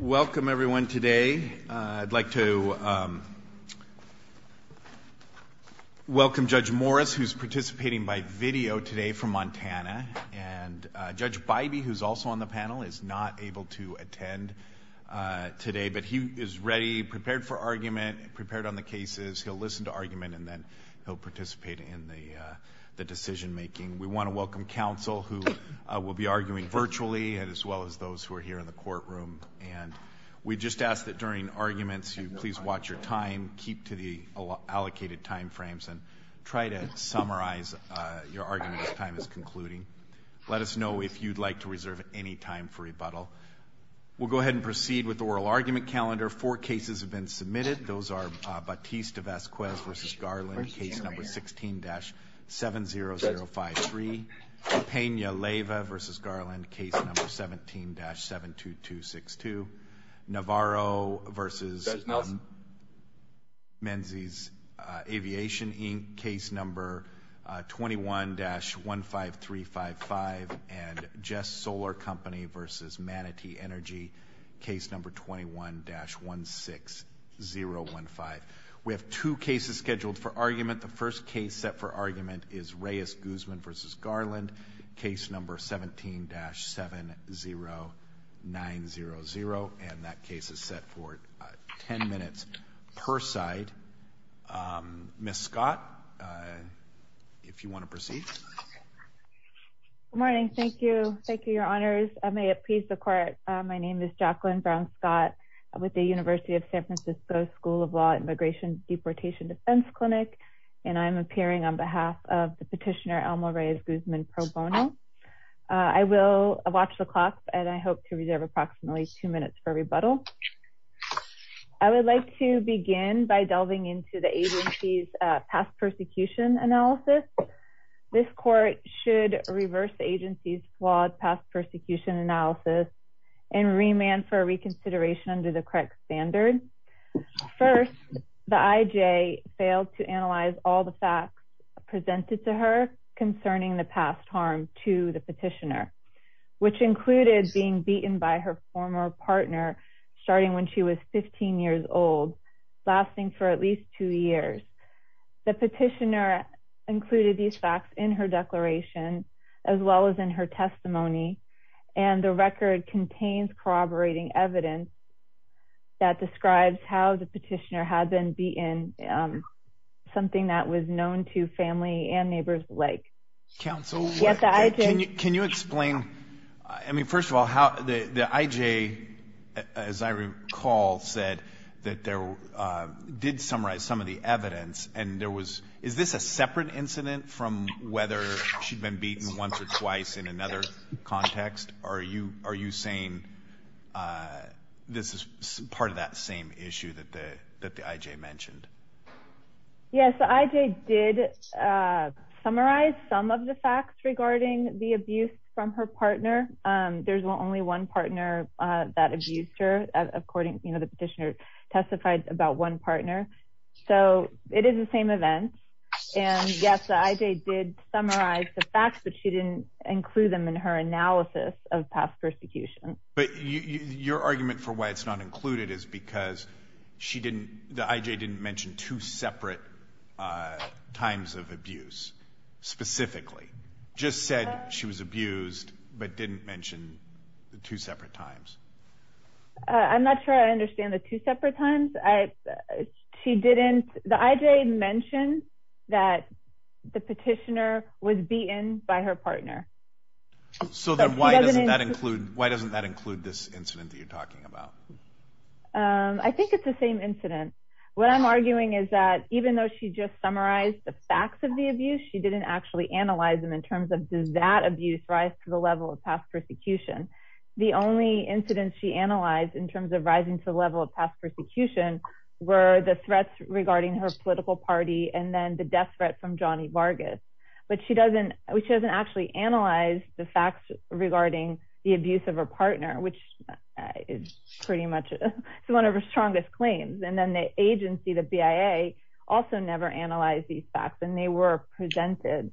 Welcome everyone today. I'd like to welcome Judge Morris who's participating by video today from Montana and Judge Bybee who's also on the panel is not able to attend today but he is ready, prepared for argument, prepared on the cases. He'll listen to argument and then he'll participate in the decision-making. We want to welcome counsel who will be arguing virtually as well as those who are here in the courtroom and we just ask that during arguments you please watch your time, keep to the allocated time frames and try to summarize your argument as time is concluding. Let us know if you'd like to reserve any time for rebuttal. We'll go ahead and proceed with the oral argument calendar. Four cases have been submitted. Those are Batiste Vazquez v. Garland case number 16-70053, Pena Leyva v. Garland case number 17-72262, Navarro v. Menzies Aviation Inc. case number 21-15355 and Jess Solar Company v. Manatee Energy case number 21-16015. We have two cases scheduled for argument. The first case set for argument is Reyes Guzman v. Garland case number 17-70900 and that case is set for 10 minutes per side. Ms. Scott, if you want to proceed. Good morning. Thank you. Thank you, your honors. I may appease the court. My name is Jacqueline Brown Scott with the University of San Francisco School of Law Immigration Deportation Defense Clinic and I'm appearing on behalf of the petitioner, Alma Reyes Guzman pro bono. I will watch the clock and I hope to reserve approximately two minutes for rebuttal. I would like to begin by delving into the agency's past persecution analysis. This court should reverse the agency's flawed past persecution analysis and remand for reconsideration under the correct standard. First, the IJ failed to analyze all the facts presented to her concerning the past harm to the petitioner, which included being beaten by her former partner starting when she was 15 years old, lasting for at least two years. The petitioner included these facts in her declaration as well as in her testimony and the record contains corroborating evidence that describes how the petitioner had been beaten, something that was known to family and neighbors alike. Counsel, can you explain, I mean, first of all, how the IJ, as I recall, said that there did summarize some of the evidence and there was, is this a separate incident from whether she'd been beaten once or twice in another context? Are you, are you saying this is part of that same issue that the, that the IJ mentioned? Yes, the IJ did summarize some of the facts regarding the abuse from her partner. There's only one partner that abused her, according, you know, the petitioner testified about one partner. So it is the same event. And yes, the IJ did summarize the facts, but she didn't include them in her analysis of past persecution. But your argument for why it's not included is because she didn't, the IJ didn't mention two separate times of abuse specifically, just said she was abused, but didn't mention the two separate times. I'm not sure I understand the two separate times. I, she didn't, the IJ mentioned that the petitioner was beaten by her partner. So then why doesn't that include, why doesn't that include this incident that you're talking about? I think it's the same incident. What I'm arguing is that even though she just summarized the facts of the abuse, she didn't actually analyze them in terms of does that abuse rise to the level of past persecution. The only incidents she analyzed in terms of rising to the level of past persecution were the threats regarding her political party and then the death threat from Johnny Vargas. But she doesn't, she doesn't actually analyze the facts regarding the abuse of her partner, which is pretty much, it's one of her strongest claims. And then the agency, the BIA also never analyzed these facts and they were presented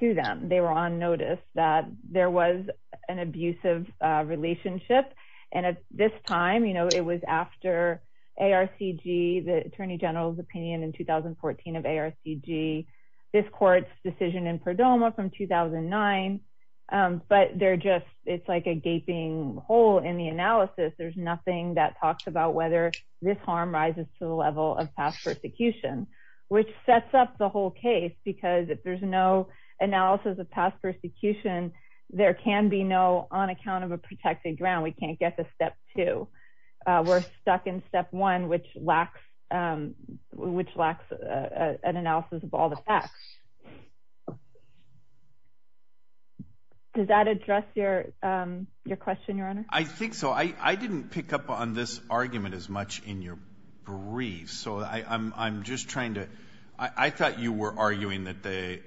to them. They were on notice that there was an abusive relationship. And at this time, you know, it was after ARCG, the attorney general's opinion in 2014 of ARCG, this court's decision in Perdomo from 2009. But they're just, it's like a gaping hole in the analysis. There's nothing that talks about whether this harm rises to the level of past persecution, which sets up the whole case. Because if there's no analysis of past persecution, there can be no, on account of a protected ground, we can't get to step two. We're stuck in step one, which lacks an analysis of all the facts. Does that address your question, Your Honor? I think so. I didn't pick up on this argument as much in your brief. So I'm just trying to, I thought you were arguing that the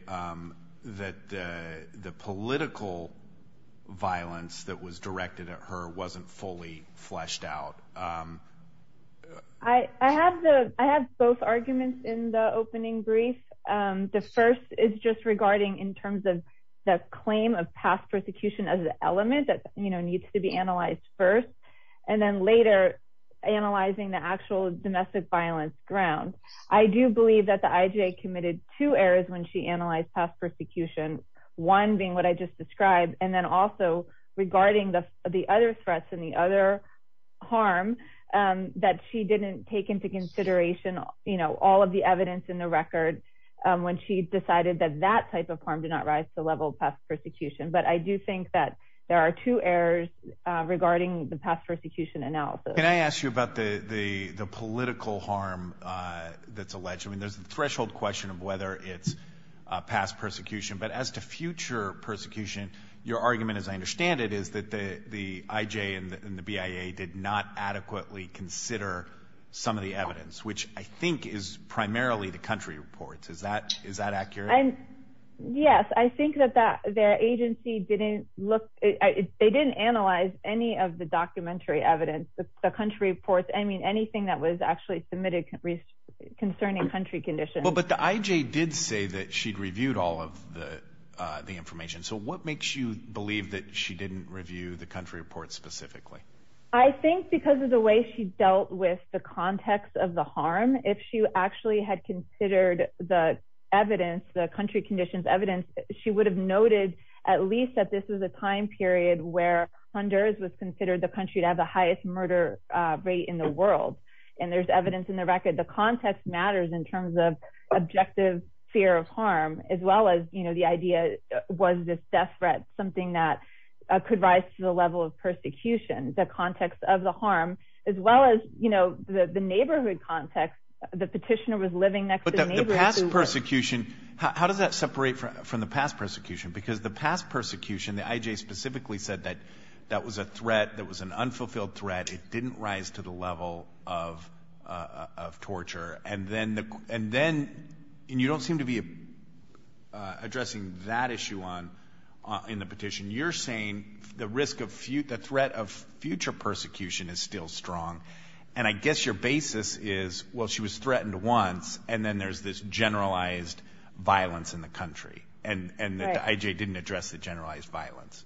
political violence that was directed at her wasn't fully fleshed out. I had both arguments in the opening brief. The first is just regarding in terms of the claim of past persecution as an element that, you know, needs to be analyzed first. And then later, analyzing the actual domestic violence grounds. I do believe that the IJA committed two errors when she analyzed past persecution. One being what I just described, and then also regarding the other threats and the other harm that she didn't take into consideration, you know, all of the evidence in the record when she decided that that type of harm did not rise to the level of past persecution. But I do think that there are two errors regarding the past persecution analysis. Can I ask you about the political harm that's alleged? I mean, there's the threshold question of whether it's past persecution. But as to future persecution, your argument, as I understand it, is that the IJA and the BIA did not adequately consider some of the evidence, which I think is primarily the country reports. Is that accurate? Yes, I think that their agency didn't look, they didn't analyze any of the documentary evidence, the country reports. I mean, anything that was actually submitted concerning country conditions. But the IJA did say that she'd reviewed all of the information. So what makes you believe that she didn't review the country reports specifically? I think because of the way she dealt with the context of the harm. If she actually had considered the evidence, the country conditions evidence, she would have noted at least that this was a time period where Honduras was considered the country to have the highest murder rate in the world. And there's evidence in the record, the context matters in terms of objective fear of harm, as well as, you know, the idea was this death threat, something that could rise to the level of persecution, the context of the harm, as well as, you know, the neighborhood context, the petitioner was living next to the neighbor. But the past persecution, how does that separate from the past persecution? Because the past persecution, the IJA specifically said that that was a threat, that was an unfulfilled threat. It didn't rise to the level of torture. And then, and you don't seem to be addressing that issue in the petition. You're saying the risk of future, the threat of future persecution is still strong. And I guess your basis is, well, she was threatened once, and then there's this generalized violence in the country and the IJA didn't address the generalized violence.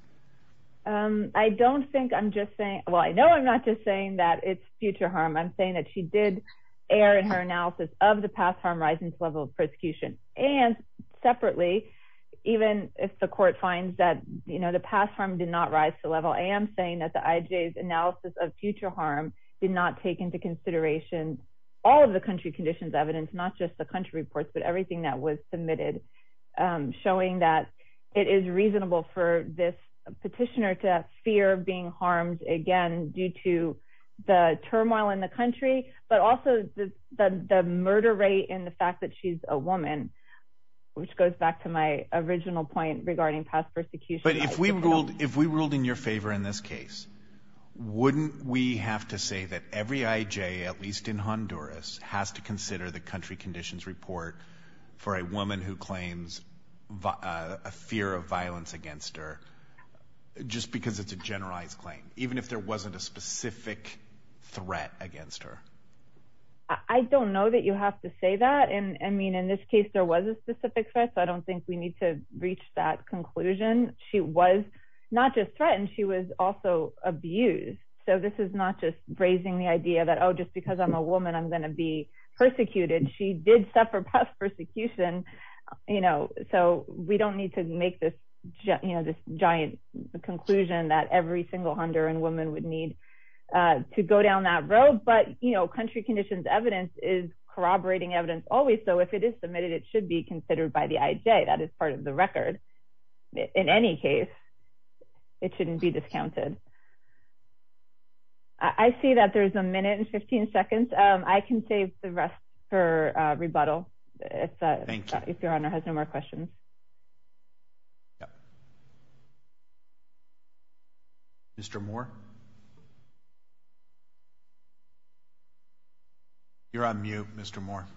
I don't think I'm just saying, well, I know I'm not just saying that it's future harm. I'm saying that she did air in her analysis of the past harm rising to the level of persecution. And separately, even if the court finds that, you know, the past harm did not rise to the harm, did not take into consideration all of the country conditions, evidence, not just the country reports, but everything that was submitted, showing that it is reasonable for this petitioner to fear being harmed again, due to the turmoil in the country, but also the murder rate and the fact that she's a woman, which goes back to my original point regarding past persecution. But if we ruled in your favor in this case, wouldn't we have to say that every IJA, at least in Honduras, has to consider the country conditions report for a woman who claims a fear of violence against her, just because it's a generalized claim, even if there wasn't a specific threat against her? I don't know that you have to say that. And I mean, in this case, there was a specific threat. So I don't think we need to reach that conclusion. She was not just threatened. She was also abused. So this is not just raising the idea that, oh, just because I'm a woman, I'm going to be persecuted. She did suffer past persecution, you know, so we don't need to make this giant conclusion that every single Honduran woman would need to go down that road. But, you know, country conditions evidence is corroborating evidence always. So if it is it should be considered by the IJA. That is part of the record. In any case, it shouldn't be discounted. I see that there's a minute and 15 seconds. I can save the rest for rebuttal if your honor has no more questions. Yeah. Mr. Moore. You're on mute, Mr. Moore.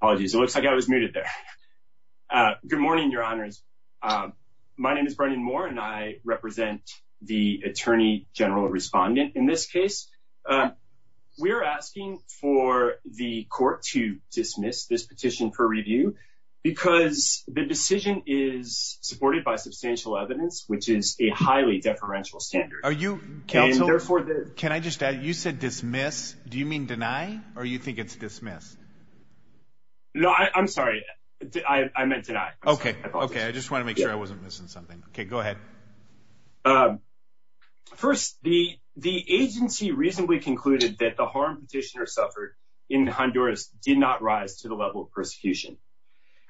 Apologies. It looks like I was muted there. Good morning, your honors. My name is Brendan Moore, and I represent the attorney general respondent. In this case, we're asking for the court to dismiss this petition for review because the decision is supported by substantial evidence, which is a highly deferential standard. Are you? Can I just add? You said dismiss. Do you mean deny? Or you think it's dismissed? No, I'm sorry. I meant to die. Okay. Okay. I just want to make sure I wasn't missing something. Okay, go ahead. First, the agency reasonably concluded that the harm petitioner suffered in Honduras did not rise to the level of persecution.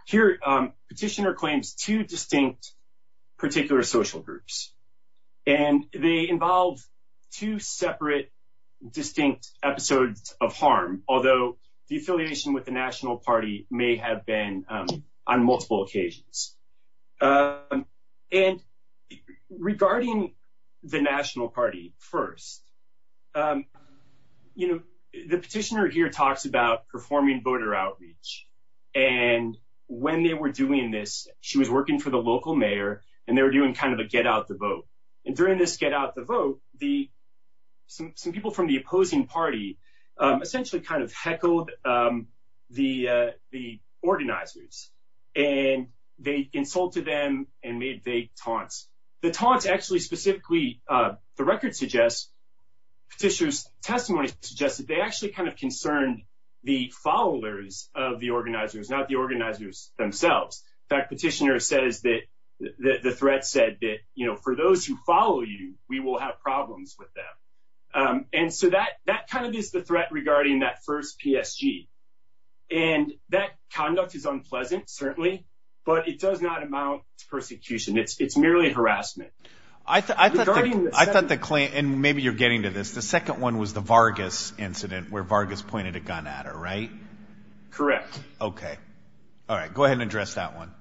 Here, petitioner claims two distinct particular social groups, and they involve two separate distinct episodes of harm, although the affiliation with the national party may have been on multiple occasions. And regarding the national party first, you know, the petitioner here talks about performing voter outreach. And when they were doing this, she was working for the local mayor, and they were doing kind of a get out the vote. And during this get out the vote, the some people from the opposing party essentially kind of heckled the organizers, and they insulted them and made vague taunts. The taunts actually specifically, the record suggests petitioners testimony suggested they actually kind of concerned the followers of the organizers, not the organizers themselves. That petitioner says that the threat said that, you know, for those who follow you, we will have problems with them. And so that that kind of is the threat regarding that first PSG. And that conduct is unpleasant, certainly, but it does not amount to persecution. It's merely harassment. I thought the claim and maybe you're getting to this. The second one was the Vargas incident where Vargas pointed a gun at her, right? Correct. Okay. All right, go ahead and address that one.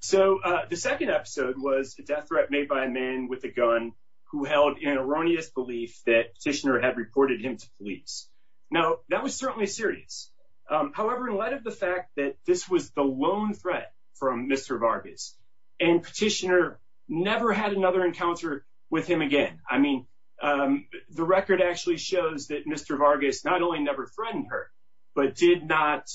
So the second episode was a death threat made by a man with a gun who held an erroneous belief that petitioner had reported him to police. Now, that was certainly serious. However, in light of the fact that this was the lone threat from Mr. Vargas, and petitioner never had another encounter with him again, I mean, the record actually shows that Mr. Vargas not only never threatened her, but did not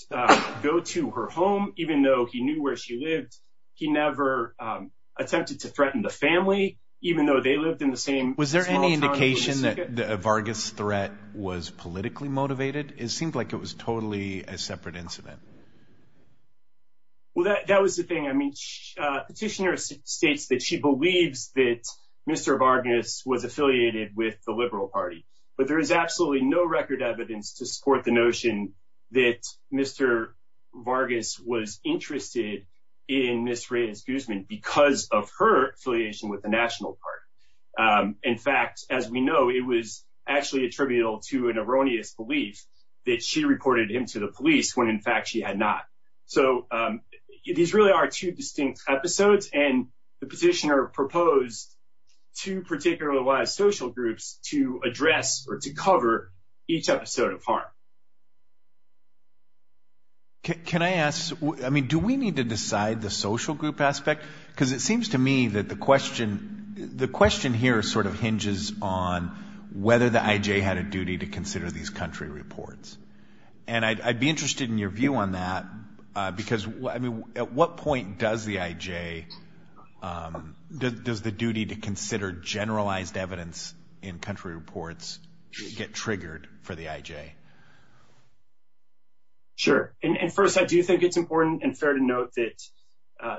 go to her home, even though he knew where she lived. He never attempted to threaten the family, even though they lived in the same. Was there any indication that the Vargas threat was politically motivated? It seemed like it was totally a separate incident. Well, that was the thing. I mean, petitioner states that she believes that Mr. Vargas was Mr. Vargas was interested in Ms. Reyes-Guzman because of her affiliation with the National Party. In fact, as we know, it was actually attributable to an erroneous belief that she reported him to the police when in fact she had not. So these really are two distinct episodes, and the petitioner proposed two particularly wise social groups to address or to cover each episode of harm. Can I ask, I mean, do we need to decide the social group aspect? Because it seems to me that the question, the question here sort of hinges on whether the IJ had a duty to consider these country reports. And I'd be interested in your view on that. Because I mean, at what point does the IJ, does the duty to consider generalized evidence in country reports get triggered for the IJ? Sure. And first, I do think it's important and fair to note that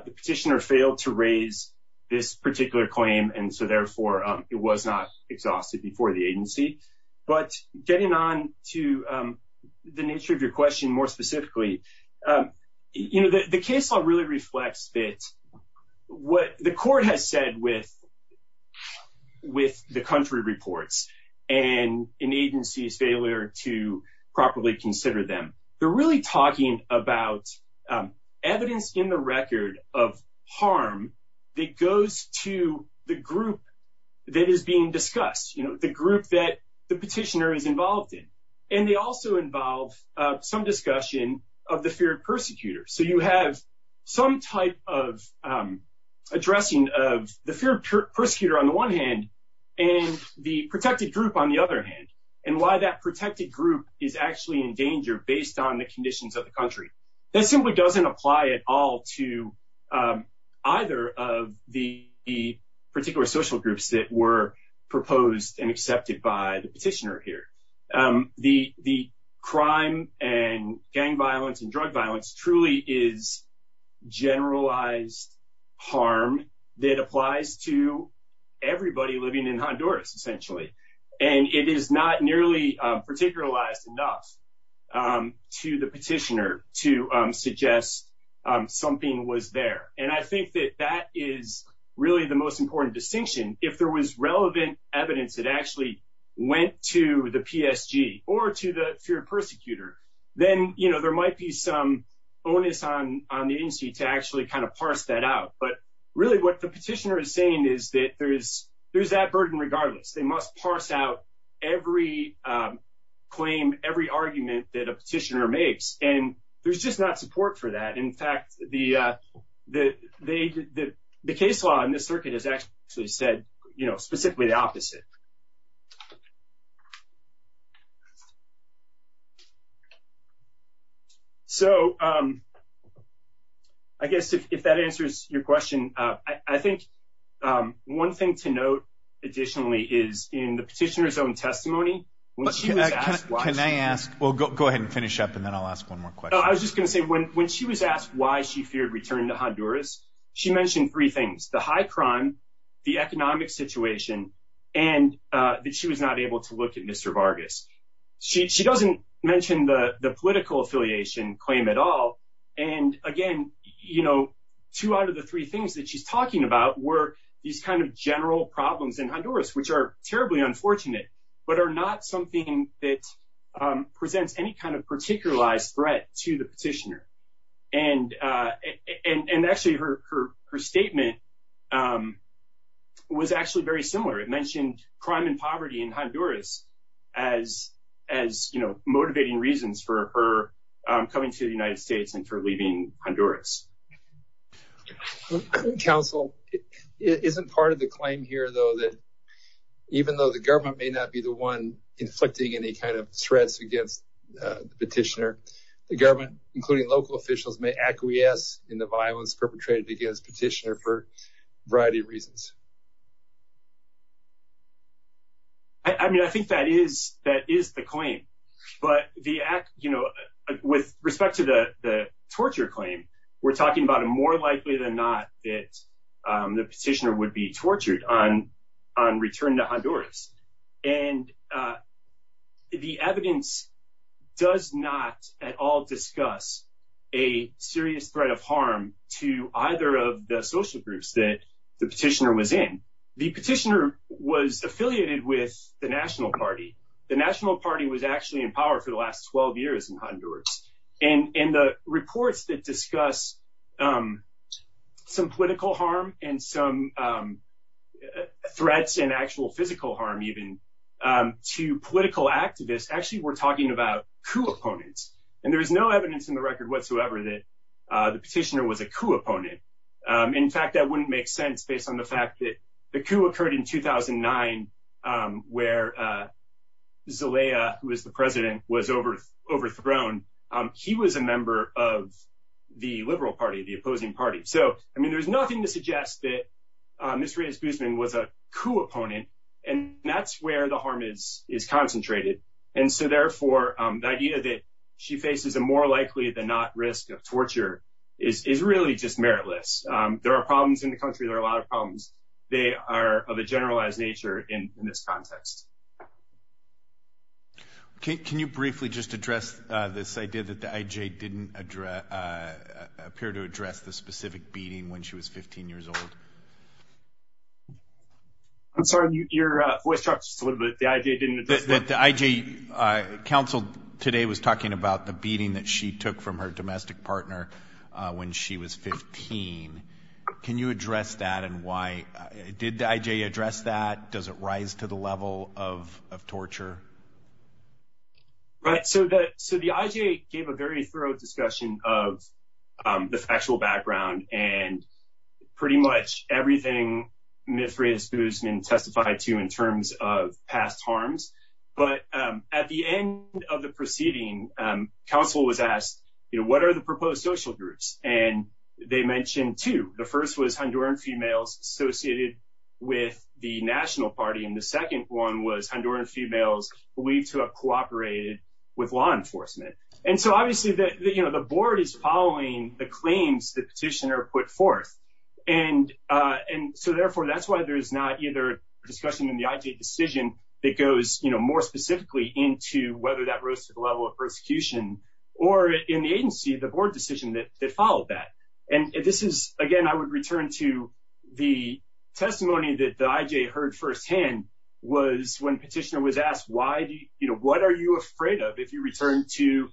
the petitioner failed to raise this particular claim, and so therefore it was not exhausted before the agency. But getting on to the nature of your question more specifically, you know, the case law really reflects that what the court has said with the country reports and an agency's failure to properly consider them, they're really talking about evidence in the record of harm that goes to the group that is being discussed, you know, the group that the petitioner is involved in. And they also involve some discussion of the feared persecutor. So you have some type of addressing of the feared persecutor on the one hand, and the protected group on the other hand, and why that protected group is actually in danger based on the conditions of the country. That simply doesn't apply at all to either of the particular social groups that were proposed and accepted by the agency. Crime and gang violence and drug violence truly is generalized harm that applies to everybody living in Honduras, essentially. And it is not nearly particularized enough to the petitioner to suggest something was there. And I think that that is really the most important distinction. If there was relevant evidence that actually went to the PSG or to the feared persecutor, then, you know, there might be some onus on the agency to actually kind of parse that out. But really, what the petitioner is saying is that there's that burden regardless, they must parse out every claim, every argument that a petitioner makes. And there's just not support for that. In fact, the case law in this circuit has actually said, you know, specifically the opposite. So, I guess if that answers your question, I think one thing to note, additionally, is in the petitioner's own testimony. Can I ask, well, go ahead and finish up and then I'll ask one more question. I was just going to say, when she was asked why she feared returning to Honduras, she mentioned three things, the high crime, the economic situation, and that she was not able to look at Mr. Vargas. She doesn't mention the political affiliation claim at all. And again, you know, two out of the three things that she's talking about were these kind of general problems in Honduras, which are terribly unfortunate, but are not something that to the petitioner. And actually, her statement was actually very similar. It mentioned crime and poverty in Honduras as, you know, motivating reasons for her coming to the United States and for leaving Honduras. Counsel, isn't part of the claim here, though, that even though the government may not be the one inflicting any kind of threats against the petitioner, the government, including local officials, may acquiesce in the violence perpetrated against petitioner for a variety of reasons? I mean, I think that is the claim. But the act, you know, with respect to the torture claim, we're talking about a more likely than not that the petitioner would be tortured on return to Honduras. And the evidence does not at all discuss a serious threat of harm to either of the social groups that the petitioner was in. The petitioner was affiliated with the National Party. The National Party was actually in power for the last 12 years in Honduras. And in the reports that discuss some political harm and some threats and actual physical harm, even to political activists, actually, we're talking about coup opponents. And there is no evidence in the record whatsoever that the petitioner was a coup opponent. In fact, that wouldn't make sense based on the fact that the coup occurred in 2009, where Zelaya, who is the president, was overthrown. He was a member of the Liberal Party, the opposing party. So, I mean, there's nothing to suggest that Ms. Reyes-Guzman was a coup opponent. And so, therefore, the idea that she faces a more likely than not risk of torture is really just meritless. There are problems in the country. There are a lot of problems. They are of a generalized nature in this context. Can you briefly just address this idea that the IJ didn't appear to address the specific beating when she was 15 years old? I'm sorry. Your voice dropped just a little bit. The IJ didn't address that. The IJ counseled today was talking about the beating that she took from her domestic partner when she was 15. Can you address that and why? Did the IJ address that? Does it rise to the level of torture? Right. So, the IJ gave a very thorough discussion of the factual background and pretty much everything Ms. Reyes-Guzman testified to in terms of past harms. But at the end of the proceeding, counsel was asked, you know, what are the proposed social groups? And they mentioned two. The first was Honduran females associated with the national party. And the second one was Honduran females believed to have the claims that petitioner put forth. And so, therefore, that's why there is not either discussion in the IJ decision that goes, you know, more specifically into whether that rose to the level of persecution or in the agency, the board decision that followed that. And this is, again, I would return to the testimony that the IJ heard firsthand was when petitioner was asked, you know, what are you afraid of if you return to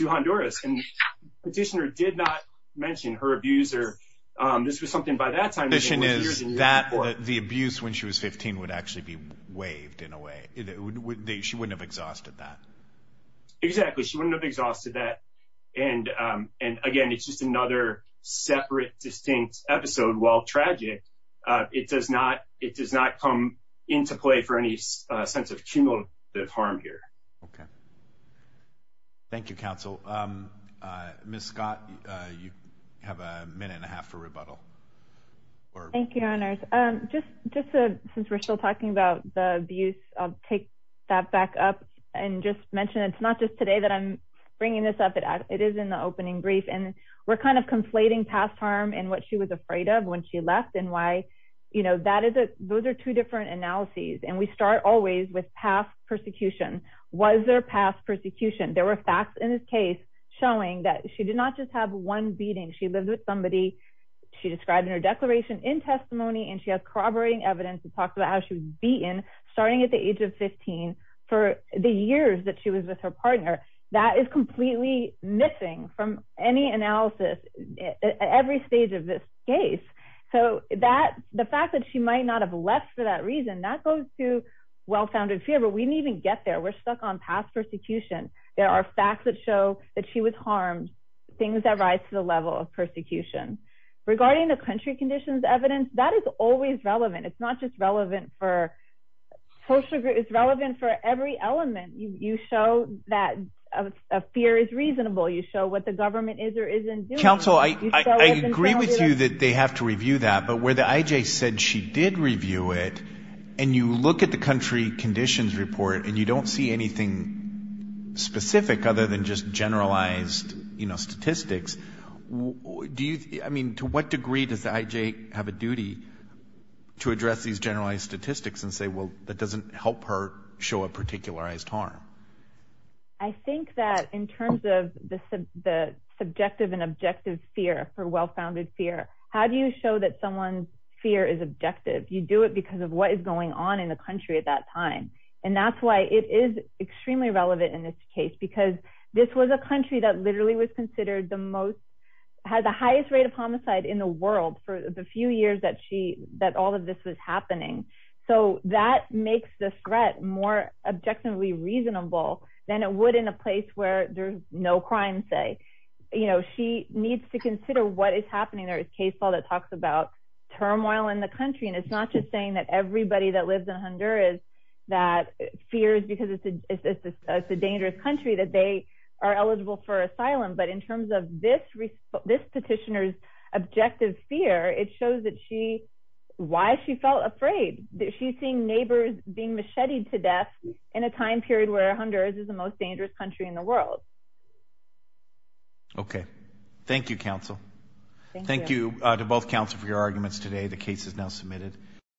Honduras? And petitioner did not mention her abuser. This was something by that time. The petition is that the abuse when she was 15 would actually be waived in a way. She wouldn't have exhausted that. Exactly. She wouldn't have exhausted that. And, again, it's just another separate distinct episode. While tragic, it does not come into play for any sense of cumulative harm here. Okay. Thank you, counsel. Ms. Scott, you have a minute and a half for rebuttal. Thank you, honors. Just since we're still talking about the abuse, I'll take that back up and just mention it's not just today that I'm bringing this up. It is in the opening brief. And we're kind of conflating past harm and what she was afraid of when she left and why, you know, those are two different analyses. And we start always with past persecution. Was there past persecution? There were facts in this case showing that she did not just have one beating. She lived with somebody she described in her declaration in testimony, and she has corroborating evidence that talks about how she was beaten starting at the age of 15 for the years that she was with her partner. That is completely missing from any analysis at every stage of this case. So the fact that she might not have left for that reason, that goes to well-founded fear, but we didn't even get there. We're stuck on past persecution. There are facts that show that she was harmed, things that rise to the level of persecution. Regarding the country conditions evidence, that is always relevant. It's not just relevant for social groups. It's relevant for every element. You show that fear is reasonable. You show what government is or isn't doing. Counsel, I agree with you that they have to review that, but where the IJ said she did review it and you look at the country conditions report and you don't see anything specific other than just generalized, you know, statistics, do you, I mean, to what degree does the IJ have a duty to address these generalized statistics and say, well, that doesn't help her show a particularized harm? I think that in terms of the subjective and objective fear for well-founded fear, how do you show that someone's fear is objective? You do it because of what is going on in the country at that time. And that's why it is extremely relevant in this case, because this was a country that literally was considered the most, had the highest rate of homicide in the world for the few years that she, that all of this was happening. So that makes the threat more objectively reasonable than it would in a place where there's no crime say, you know, she needs to consider what is happening. There is case law that talks about turmoil in the country. And it's not just saying that everybody that lives in Honduras, that fears because it's a dangerous country that they are eligible for asylum. But in terms of this petitioner's objective fear, it shows that she, why she felt afraid that she's seeing neighbors being macheted to death in a time period where Honduras is the most dangerous country in the world. Okay. Thank you, counsel. Thank you to both counsel for your arguments today. The case is now submitted.